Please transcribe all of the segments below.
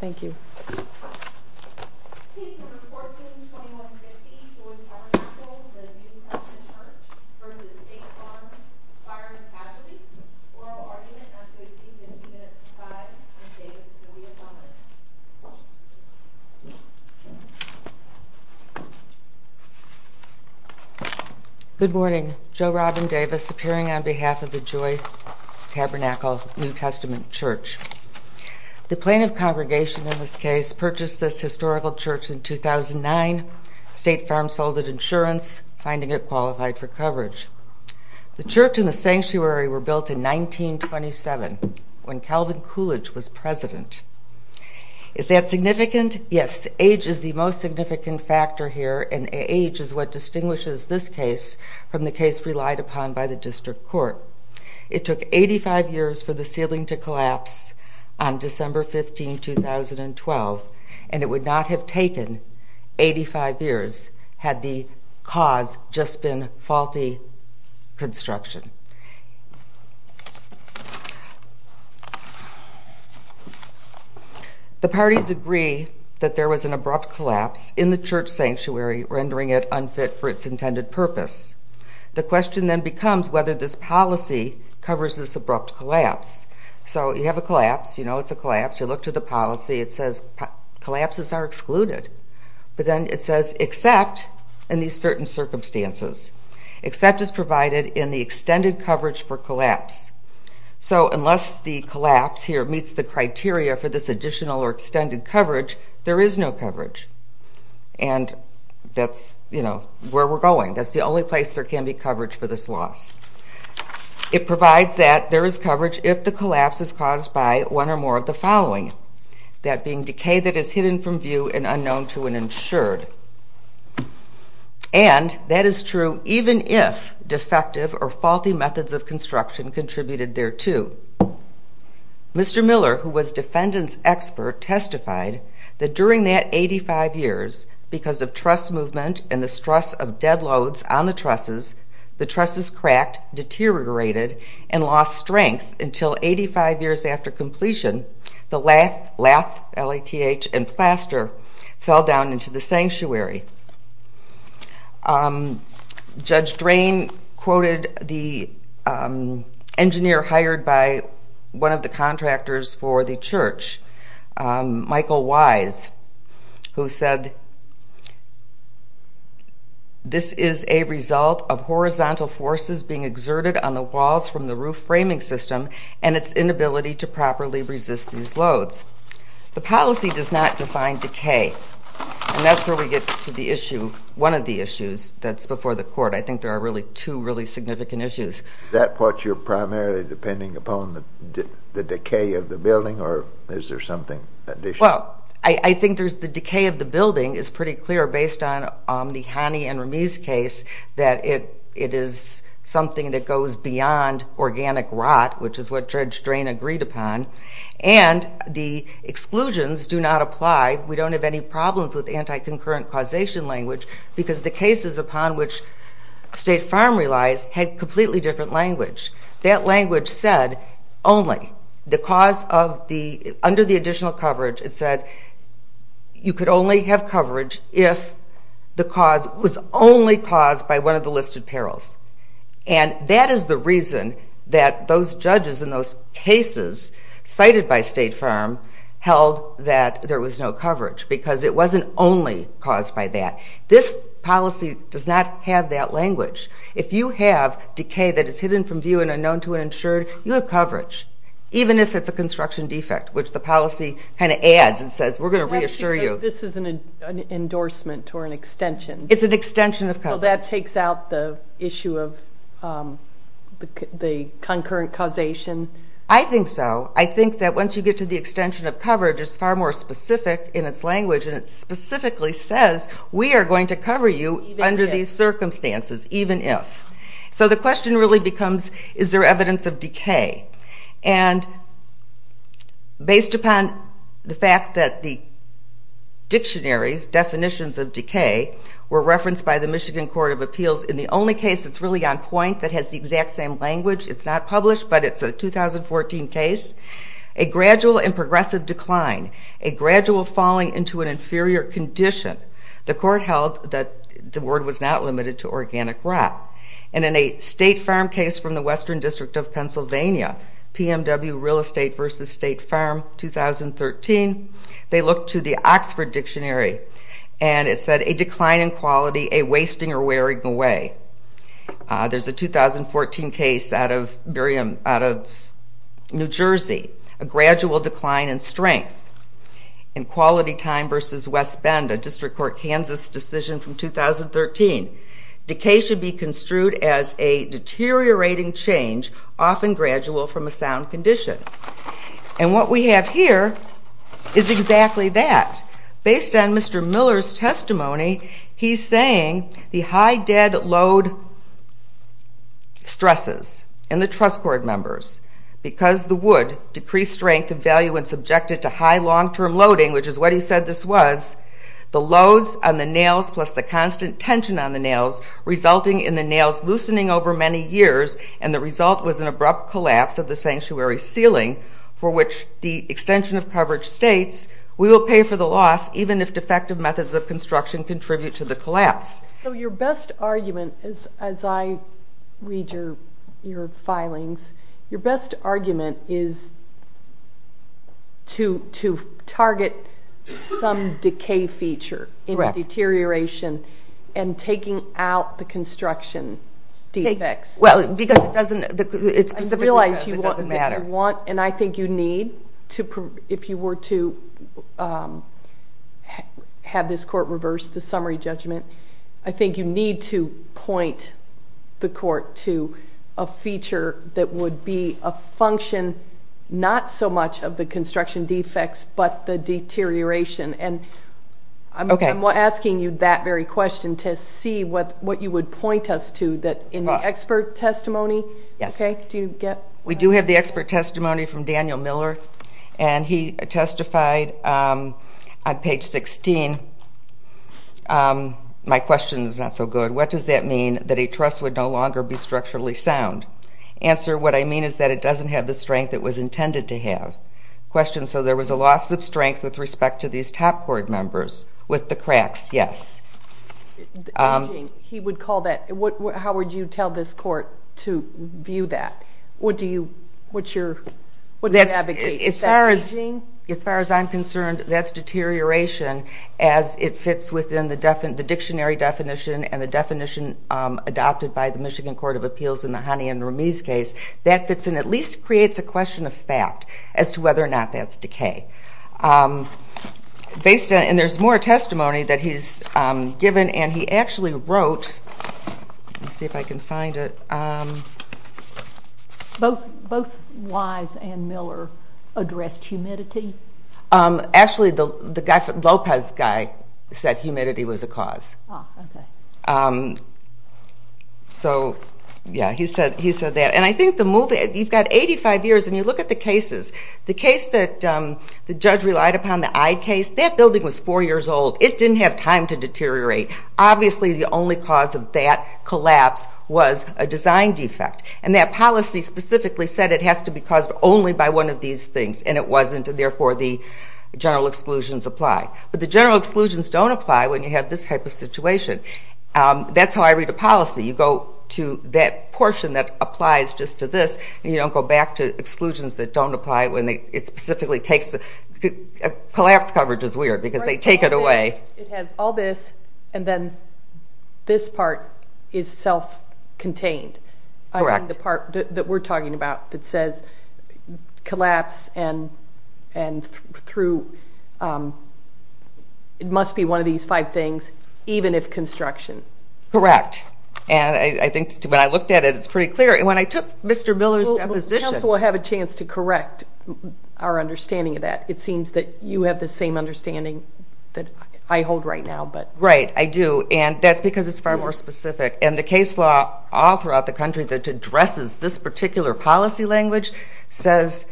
Thank you. Good morning, Joe Robin Davis appearing on behalf of the Joy in this case, purchased this historical church in 2009. State Farm sold it insurance, finding it qualified for coverage. The church and the sanctuary were built in 1927, when Calvin Coolidge was president. Is that significant? Yes, age is the most significant factor here and age is what distinguishes this case from the case relied upon by the district court. It took 85 years for the ceiling to collapse on December 15, 2012, and it would not have taken 85 years had the cause just been faulty construction. The parties agree that there was an abrupt collapse in the church sanctuary, rendering it unfit for its intended purpose. The question then becomes whether this policy covers this abrupt collapse. So you have a collapse, you know it's a collapse, you look to the policy, it says collapses are excluded. But then it says except in these certain circumstances, except is provided in the extended coverage for collapse. So unless the collapse here meets the criteria for this additional or extended coverage, there is no coverage. And that's, you know, where we're going. That's the only place there can be loss. It provides that there is coverage if the collapse is caused by one or more of the following, that being decay that is hidden from view and unknown to an insured. And that is true even if defective or faulty methods of construction contributed there too. Mr. Miller, who was defendant's expert, testified that during that 85 years, because of truss movement and the stress of dead loads on the trusses, the trusses cracked, deteriorated, and lost strength until 85 years after completion, the lathe, L-A-T-H, and plaster fell down into the sanctuary. Judge Drain quoted the engineer hired by one of the contractors for the church, Michael Wise, who said, I think there are really two really significant issues. Is that what you're primarily depending upon, the decay of the building, or is there something additional? Well, I think the decay of the building is pretty clear based on the Hani and something that goes beyond organic rot, which is what Judge Drain agreed upon, and the exclusions do not apply. We don't have any problems with anti-concurrent causation language because the cases upon which State Farm relies had completely different language. That language said only, the cause of the, under the additional coverage, it said you could only have coverage if the And that is the reason that those judges in those cases cited by State Farm held that there was no coverage, because it wasn't only caused by that. This policy does not have that language. If you have decay that is hidden from view and unknown to an insured, you have coverage, even if it's a construction defect, which the policy kind of adds and says, we're gonna reassure you. This is an endorsement or an extension. It's an extension of coverage. So that takes out the issue of the concurrent causation? I think so. I think that once you get to the extension of coverage, it's far more specific in its language, and it specifically says we are going to cover you under these circumstances, even if. So the question really becomes, is there evidence of decay? And based upon the fact that the dictionaries, definitions of decay, were the Michigan Court of Appeals, in the only case that's really on point that has the exact same language, it's not published, but it's a 2014 case, a gradual and progressive decline, a gradual falling into an inferior condition. The court held that the word was not limited to organic rot. And in a State Farm case from the Western District of Pennsylvania, PMW Real Estate versus State Farm, 2013, they looked to the Oxford Dictionary, and it said, a decline in quality, a wasting or wearing away. There's a 2014 case out of New Jersey, a gradual decline in strength. In Quality Time versus West Bend, a District Court Kansas decision from 2013, decay should be construed as a deteriorating change, often gradual from a sound condition. And what we have here is exactly that. Based on Mr. Miller's testimony, he's saying the high dead load stresses in the truss cord members, because the wood decreased strength and value when subjected to high long term loading, which is what he said this was, the loads on the nails plus the constant tension on the nails, resulting in the nails loosening over many years, and the result was an abrupt collapse of the sanctuary ceiling for which the extension of coverage states, we will pay for the loss even if defective methods of construction contribute to the collapse. So your best argument is, as I read your filings, your best argument is to target some decay feature in deterioration and taking out the construction defects. Well, because it doesn't... I realize you want, and I think you need to... If you were to have this court reverse the summary judgment, I think you need to point the court to a feature that would be a function, not so much of the construction defects, but the deterioration. And I'm asking you that very question to see what you would point us to, that in the expert testimony... Yes. Okay, do you get... We do have the expert testimony from Daniel Miller, and he testified on page 16. My question is not so good. What does that mean that a truss would no longer be structurally sound? Answer, what I mean is that it doesn't have the strength it was intended to have. Question, so there was a loss of strength with respect to these top cord members with the cracks? Yes. He would call that... How would you tell this court to view that? What do you... What's your... What do you advocate? Is that reasoning? As far as I'm concerned, that's deterioration, as it fits within the dictionary definition and the definition adopted by the Michigan Court of Appeals in the Honey and Ramiz case. That fits in at least creates a question of fact as to whether or not that's decay. Based on... And there's more testimony that he's given, and he actually wrote... Let me see if I can find it. Both Wise and Miller addressed humidity? Actually, the Lopez guy said humidity was a cause. Okay. So, yeah, he said that. And I think the movie... You've got 85 years, and you look at the cases. The case that the judge relied upon, the Eyde case, that building was four years old. It didn't have time to deteriorate. Obviously, the only cause of that collapse was a design defect. And that policy specifically said it has to be caused only by one of these things, and it wasn't, and therefore the general exclusions apply. But the general exclusions don't apply when you have this type of situation. That's how I read a policy. You go to that portion that applies just to this, and you don't go back to exclusions that don't apply when they... It specifically takes... Collapse coverage is weird, because they take it away. It has all this, and then this part is self contained. Correct. I mean, the part that we're talking about that says, collapse and through... It must be one of these five things, even if construction. Correct. And I think when I looked at it, it's pretty clear. When I took Mr. Miller's deposition... Well, the council will have a chance to correct our understanding of that. It seems that you have the same understanding that I hold right now, but... Right, I do. And that's because it's far more specific. And the case law all throughout the country that addresses this particular policy language says,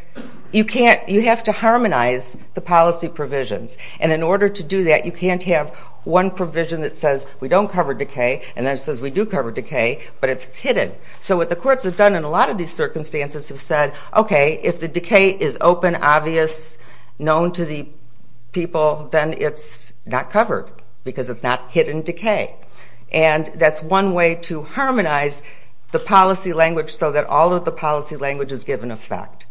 you can't... You have to harmonize the policy provisions. And in order to do that, you can't have one provision that says, we don't cover decay, and then it says, we do cover decay, but it's hidden. So what the courts have done in a lot of these circumstances have said, okay, if the decay is open, obvious, known to the people, then it's not covered, because it's not hidden decay. And that's one way to harmonize the policy language so that all of the policy language is given effect.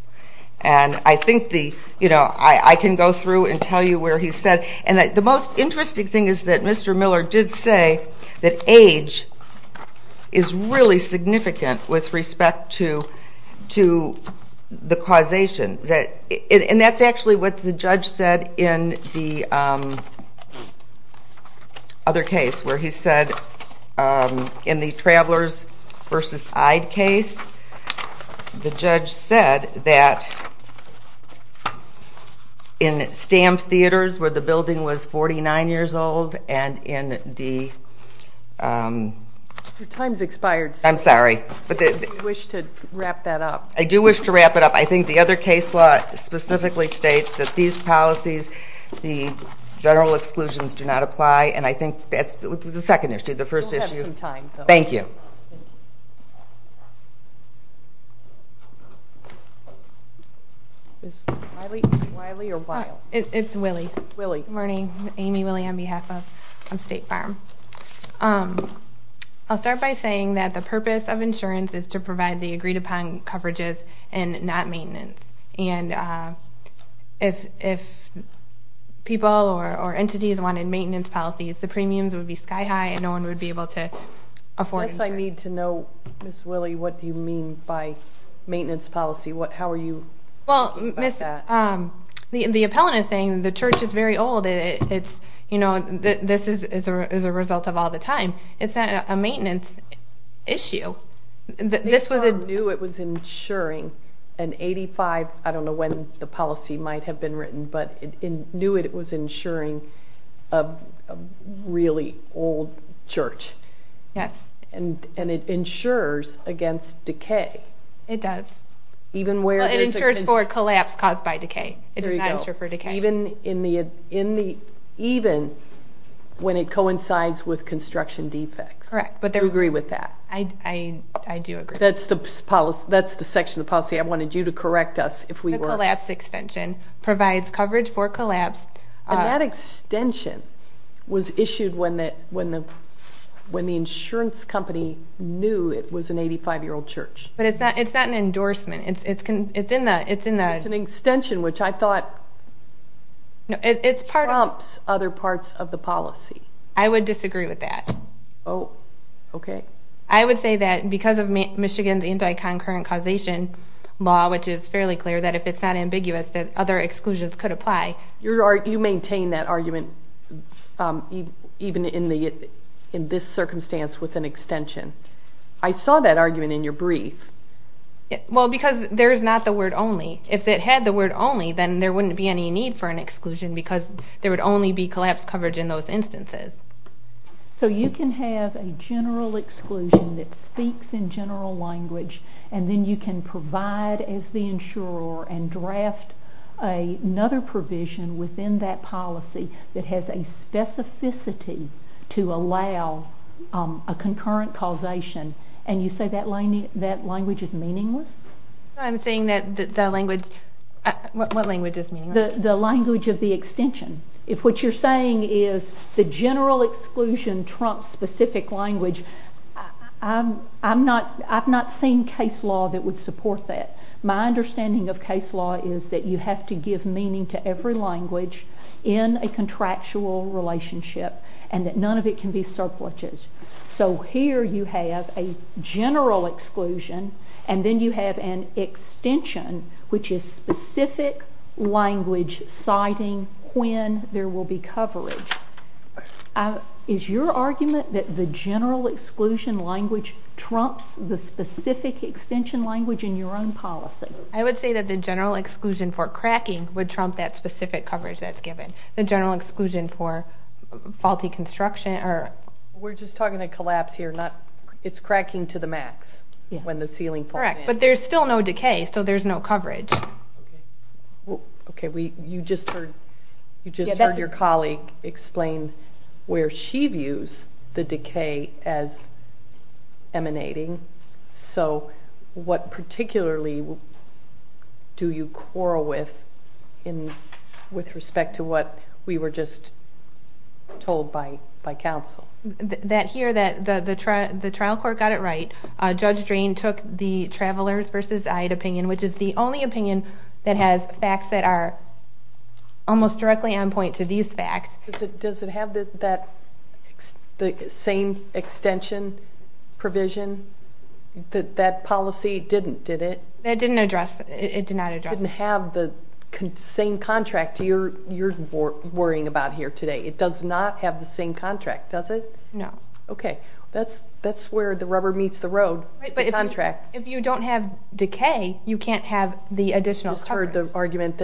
And I think the... I can go through and tell you where he said... And the most interesting thing is that Mr. Miller did say that age is really significant with respect to the causation. And that's actually what the judge said in the other case, where he said, in the Travelers versus Ide case, the judge said that in stamped theaters where the building was 49 years old and in the... Your time's expired, so... I'm sorry. If you wish to wrap that up. I do wish to wrap it up. I think the other case law specifically states that these policies, the general exclusions, do not apply, and I think that's the second issue. The first issue... We'll have some time, though. Thank you. Is this Wiley or Weill? It's Wiley. Wiley. Good morning. Amy Wiley on behalf of State Farm. I'll start by saying that the purpose of insurance is to provide the services and not maintenance. And if people or entities wanted maintenance policies, the premiums would be sky high and no one would be able to afford insurance. Yes, I need to know, Ms. Wiley, what do you mean by maintenance policy? How are you... Well, Ms... The appellant is saying the church is very old. It's... This is a result of all the time. It's not a maintenance issue. This was... State Farm knew it was insuring an 85... I don't know when the policy might have been written, but it knew it was insuring a really old church. Yes. And it insures against decay. It does. Even where... Well, it insures for collapse caused by decay. It does not insure for decay. Even in the... Even when it coincides with construction defects. Correct. Do you agree with that? I do agree. That's the section of the policy I wanted you to correct us if we were... The collapse extension provides coverage for collapse. And that extension was issued when the insurance company knew it was an 85 year old church. But it's not an endorsement. It's in the... It's an extension which I thought... No, it's part of... Trumps other parts of the policy. I would disagree with that. Oh, okay. I would say that because of Michigan's anti concurrent causation law, which is fairly clear, that if it's not ambiguous, that other exclusions could apply. You maintain that argument even in this circumstance with an extension. I saw that argument in your brief. Well, because there's not the word only. If it had the word only, then there wouldn't be any need for an exclusion because there would only be collapse coverage in those instances. So you can have a general exclusion that speaks in general language and then you can provide as the insurer and draft another provision within that policy that has a specificity to allow a concurrent causation. And you say that language is meaningless? I'm saying that the language... What language is meaningless? The language of the extension. If what you're saying is the general exclusion trumps specific language, I've not seen case law that would support that. My understanding of case law is that you have to give meaning to every language in a contractual relationship and that none of it can be surpluses. So here you have a general exclusion and then you have an extension, which is specific language citing when there will be coverage. Is your argument that the general exclusion language trumps the specific extension language in your own policy? I would say that the general exclusion for cracking would trump that specific coverage that's given. The general exclusion for faulty construction or... We're just talking about collapse here, it's cracking to the max when the ceiling falls in. Correct, but there's still no decay, so there's no coverage. Okay, you just heard your colleague explain where she views the decay as emanating. So what particularly do you quarrel with, with respect to what we were just told by counsel? That here, that the trial court got it right, Judge Drain took the Travelers v. Ide opinion, which is the only opinion that has facts that are almost directly on point to these facts. Does it have that same extension provision? That policy didn't, did it? It didn't address, it did not address. It didn't have the same contract you're worrying about here today. It does not have the same contract, does it? No. Okay, that's where the rubber meets the road, the contract. Right, but if you don't have decay, you can't have the additional coverage. I just heard the argument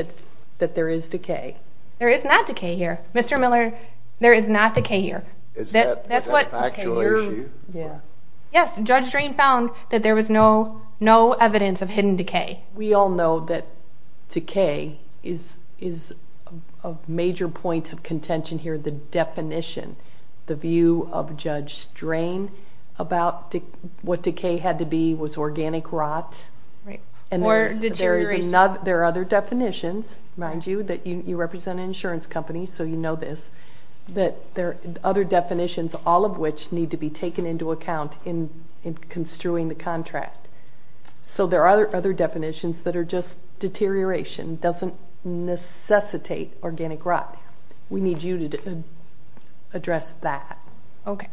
that there is decay. There is not decay here. Mr. Miller, there is not decay here. Is that a factual issue? Yes, Judge Drain found that there was no evidence of hidden decay. We all know that decay is a major point of contention here. The definition, the view of Judge Drain about what decay had to be was organic rot. Right, or deterioration. There are other definitions, mind you, that you represent an insurance company, so you know this, that there are other definitions, all of which need to be taken into account in construing the contract. So there are other definitions that are just deterioration, doesn't necessitate organic rot. We need you to address that. Okay.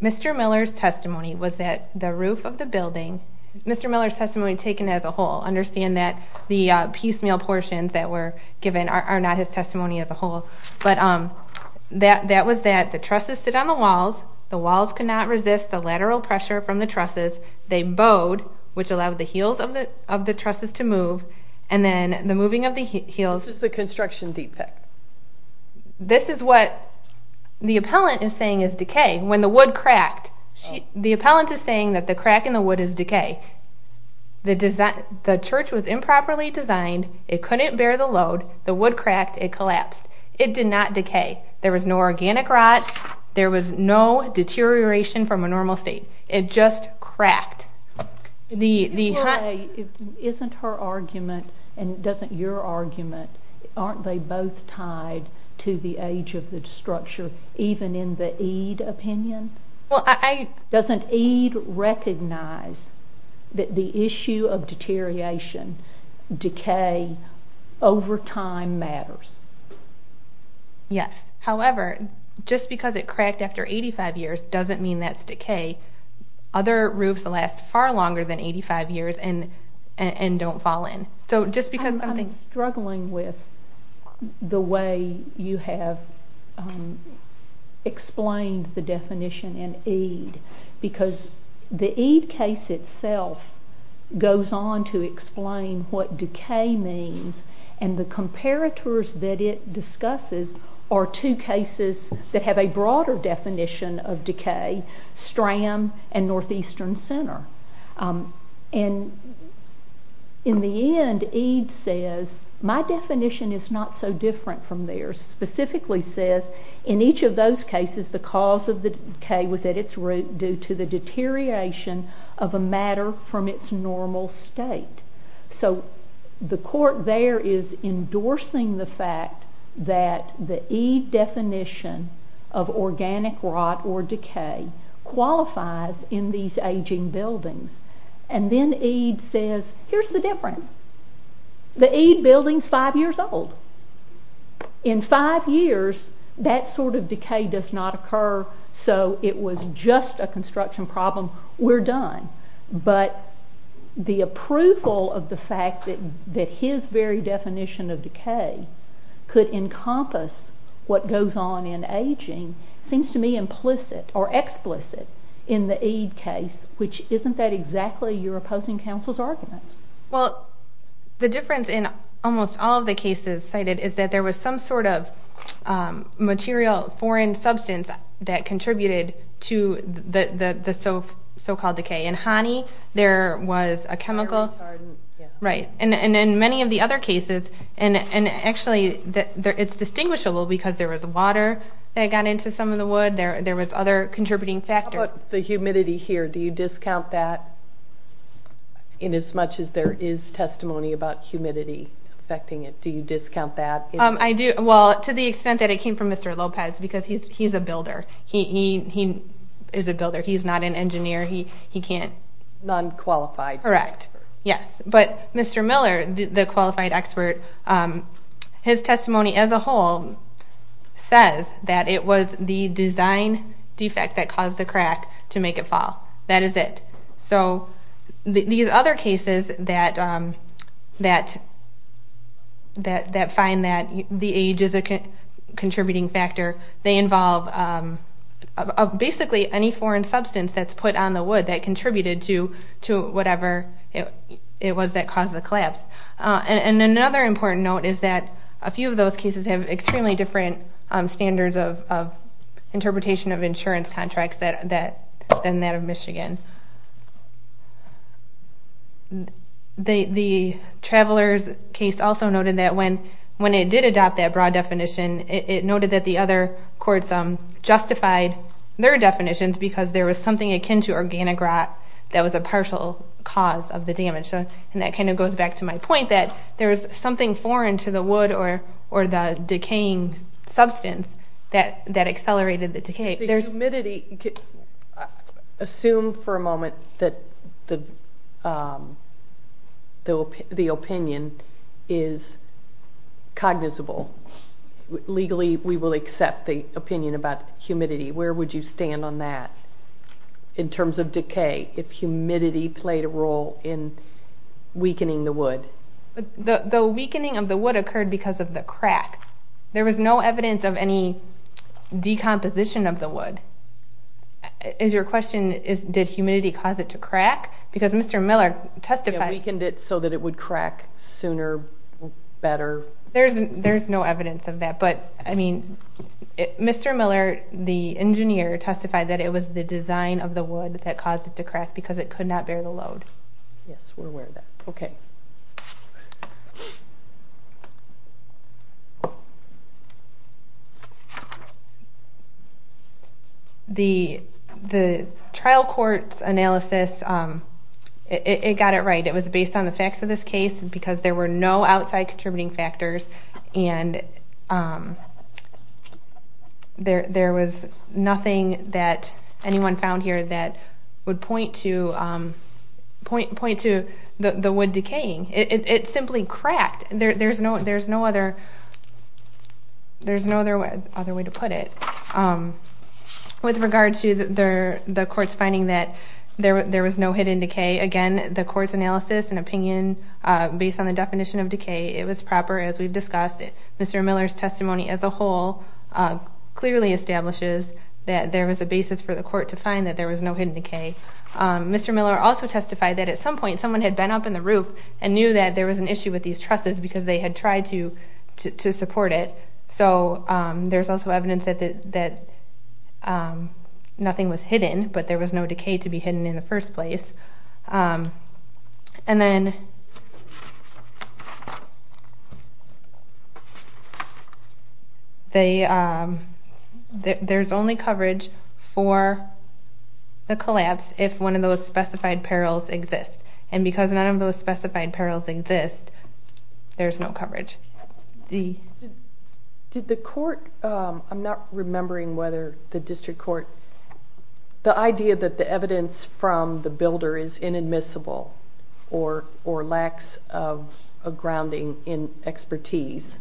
Mr. Miller's testimony was that the roof of the building, Mr. Miller's testimony taken as a whole, understand that the piecemeal portions that were given are not his testimony as a whole, but that was that the trusses sit on the walls, the walls cannot resist the lateral pressure from the trusses, they bowed, which allowed the heels of the trusses to move, and then the moving of the heels... Is this the construction deep pit? This is what the appellant is saying is decay, when the wood cracked. The appellant is saying that the crack in the wood is decay. The church was improperly designed, it couldn't bear the load, the wood had no deterioration from a normal state, it just cracked. Isn't her argument, and doesn't your argument, aren't they both tied to the age of the structure, even in the Ede opinion? Doesn't Ede recognize that the issue of deterioration, decay over time matters? Yes, however, just because it cracked after 85 years doesn't mean that's decay. Other roofs last far longer than 85 years and don't fall in. So just because... I'm struggling with the way you have explained the definition in Ede, because the Ede case itself goes on to explain what decay means, and the comparators that it discusses are two cases that have a broader definition of decay, Stram and Northeastern Center. In the end, Ede says, my definition is not so different from theirs, specifically says, in each of those cases, the cause of the decay was at its root due to the deterioration of a matter from its normal state. So the court there is endorsing the fact that the Ede definition of organic rot or decay qualifies in these aging buildings, and then Ede says, here's the difference. The Ede building's five years old. In five years, that sort of decay does not occur, so it was just a construction problem, we're done. But the approval of the fact that his very definition of decay could encompass what goes on in aging seems to me implicit or explicit in the Ede case, which isn't that exactly your opposing counsel's argument? Well, the difference in almost all of the cases cited is that there was some sort of material, foreign substance that contributed to the so called decay. In Hani, there was a chemical... Right. And in many of the other cases, and actually, it's distinguishable because there was water that got into some of the wood, there was other contributing factors. How about the humidity here? Do you discount that in as much as there is testimony about humidity affecting it? Do you discount that? I do. Well, to the extent that it came from Mr. Lopez, because he's a builder. He is a builder, he's not an engineer, he can't... Non qualified. Correct. Yes. But Mr. Miller, the qualified expert, his testimony as a whole says that it was the design defect that caused the crack to make it fall. That is it. So these other cases that find that the age is a contributing factor, they involve basically any foreign substance that's put on the wood that contributed to whatever it was that caused the collapse. And another important note is that a few of those cases have extremely different standards of interpretation of insurance contracts than that of Michigan. The Travelers case also noted that when it did adopt that broad definition, it noted that the other courts justified their definitions because there was something akin to organic rot that was a partial cause of the damage. So, and that kind of goes back to my point that there was something foreign to the wood or the decaying substance that accelerated the decay. The humidity... Assume for a moment that the opinion is cognizable. Legally, we will accept the opinion about humidity. Where would you stand on that in terms of decay if humidity played a role in weakening the wood? The weakening of the wood occurred because of the crack. There was no evidence of any decomposition of the wood. Is your question, did humidity cause it to crack? Because Mr. Miller testified... It weakened it so that it would crack sooner, better. There's no evidence of that. But, I mean, Mr. Miller, the engineer, testified that it was the design of the wood that caused it to crack because it could not bear the load. Yes, we're aware of that. Okay. The trial court's analysis, it got it right. It was based on the facts of this case because there were no outside contributing factors and there was nothing that anyone found here that would point to the wood decaying. It simply cracked. There's no other way to put it. With regard to the court's finding that there was no hidden decay, again, the court's analysis and opinion based on the definition of decay, it was proper as we've discussed it. Mr. Miller's testimony as a whole clearly establishes that there was a basis for the court to find that there was no hidden decay. Mr. Miller also testified that at some point, someone had been up in the roof and knew that there was an issue with these trusses because they had tried to support it. So there's also evidence that nothing was hidden, but there was no decay to be hidden in the first place. And then there's only coverage for the collapse if one of those specified perils exist. And because none of those specified perils exist, there's no coverage. Did the court... I'm not remembering whether the district court... The idea that the evidence from the builder is inadmissible or lacks of grounding in expertise.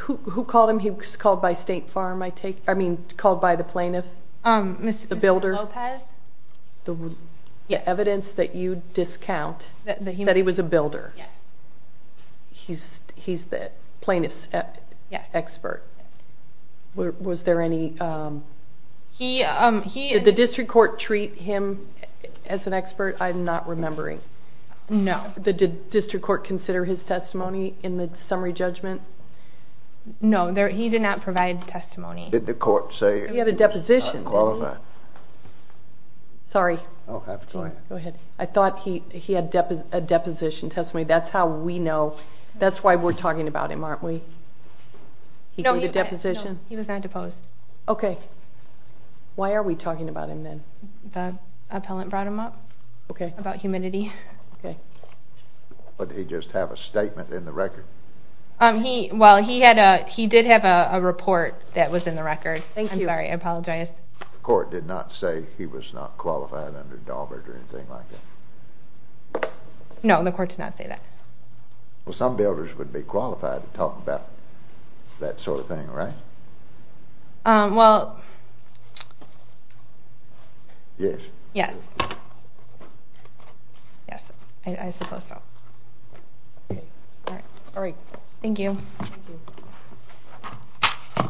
Who called him? He was called by State Farm, I take... I mean, called by the plaintiff? Mr. Lopez. The builder. The evidence that you discount that he was a builder. Yes. He's the plaintiff's expert. Was there any... Did the district court treat him as an expert? I'm not remembering. No. Did the district court consider his testimony in the summary judgment? No, he did not provide testimony. Did the court say... He had a deposition. Qualify. Sorry. Go ahead. I thought he had a deposition testimony. That's how we know. That's why we're talking about him, aren't we? He gave a deposition? No, he was not deposed. Okay. Why are we talking about him then? The appellant brought him up. Okay. About humidity. Okay. But did he just have a statement in the record? Well, he did have a report that was in the record. Thank you. I'm sorry. I apologize. The court did not say he was not qualified under Daubert or anything like that? No, the court did not say that. Well, some builders would be qualified to talk about that sort of thing, right? Well... Yes. Yes. Yes, I suppose so. All right. Thank you. I'd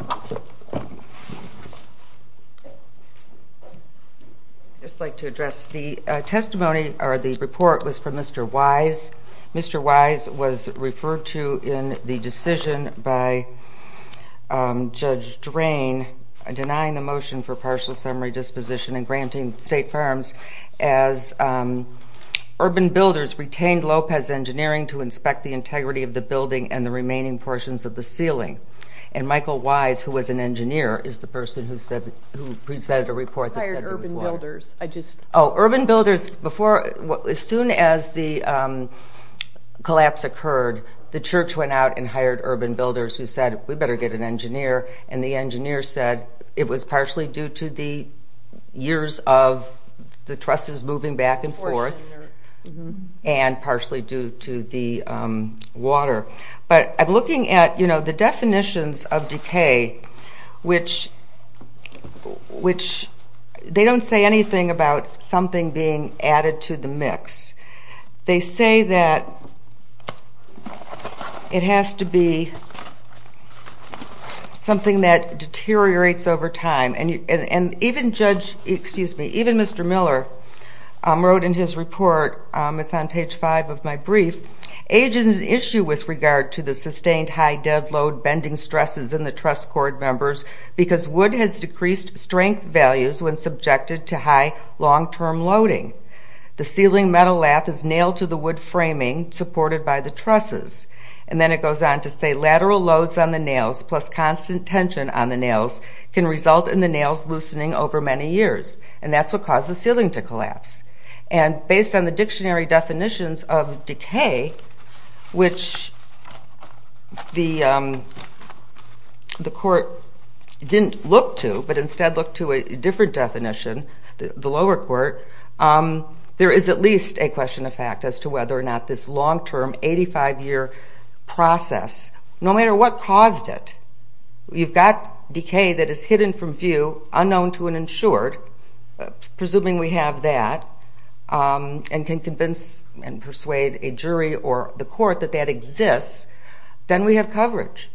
just like to address the testimony or the report was from Mr. Wise. Mr. Wise was referred to in the decision by Judge Drain denying the motion for partial summary disposition and granting state firms as urban builders retained Lopez Engineering to inspect the integrity of the building and the remaining portions of the ceiling. And Michael Wise, who was an engineer, is the person who said, who presented a report that said... I hired urban builders. I just... Urban builders, as soon as the collapse occurred, the church went out and hired urban builders who said, we better get an engineer. And the engineer said it was partially due to the years of the trusses moving back and forth and partially due to the water. But I'm looking at the definitions of decay, which... They don't say anything about something being added to the mix. They say that it has to be something that deteriorates over time. And even Judge... Excuse me. Even Mr. Miller wrote in his report, it's on page five of my brief, age is an issue with regard to the sustained high dead load bending stresses in the truss cord members because wood has decreased strength values when subjected to high long term loading. The ceiling metal lath is nailed to the wood framing supported by the trusses. And then it goes on to say, lateral loads on the nails plus constant tension on the nails can result in the nails loosening over many years. And that's what causes the ceiling to collapse. And based on the dictionary definitions of decay, which the court didn't look to, but instead looked to a different definition, the lower court, there is at least a question of fact as to whether or not this long term 85 year process, no matter what caused it, you've got decay that is hidden from view, unknown to an insured, presuming we have that and can convince and persuade a jury or the court that that exists, then we have coverage.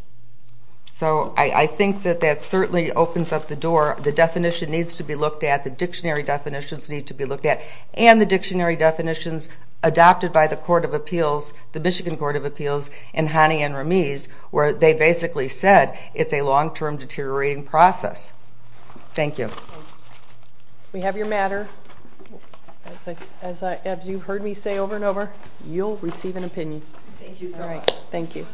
So I think that that certainly opens up the door. The definition needs to be looked at, the dictionary definitions need to be looked at, and the dictionary definitions adopted by the Court of Appeals, the Michigan Court of Appeals and Hani and Ramiz, where they basically said it's a long term deteriorating process. Thank you. We have your matter. As you've heard me say over and over, you'll receive an opinion. Thank you so much. Thank you.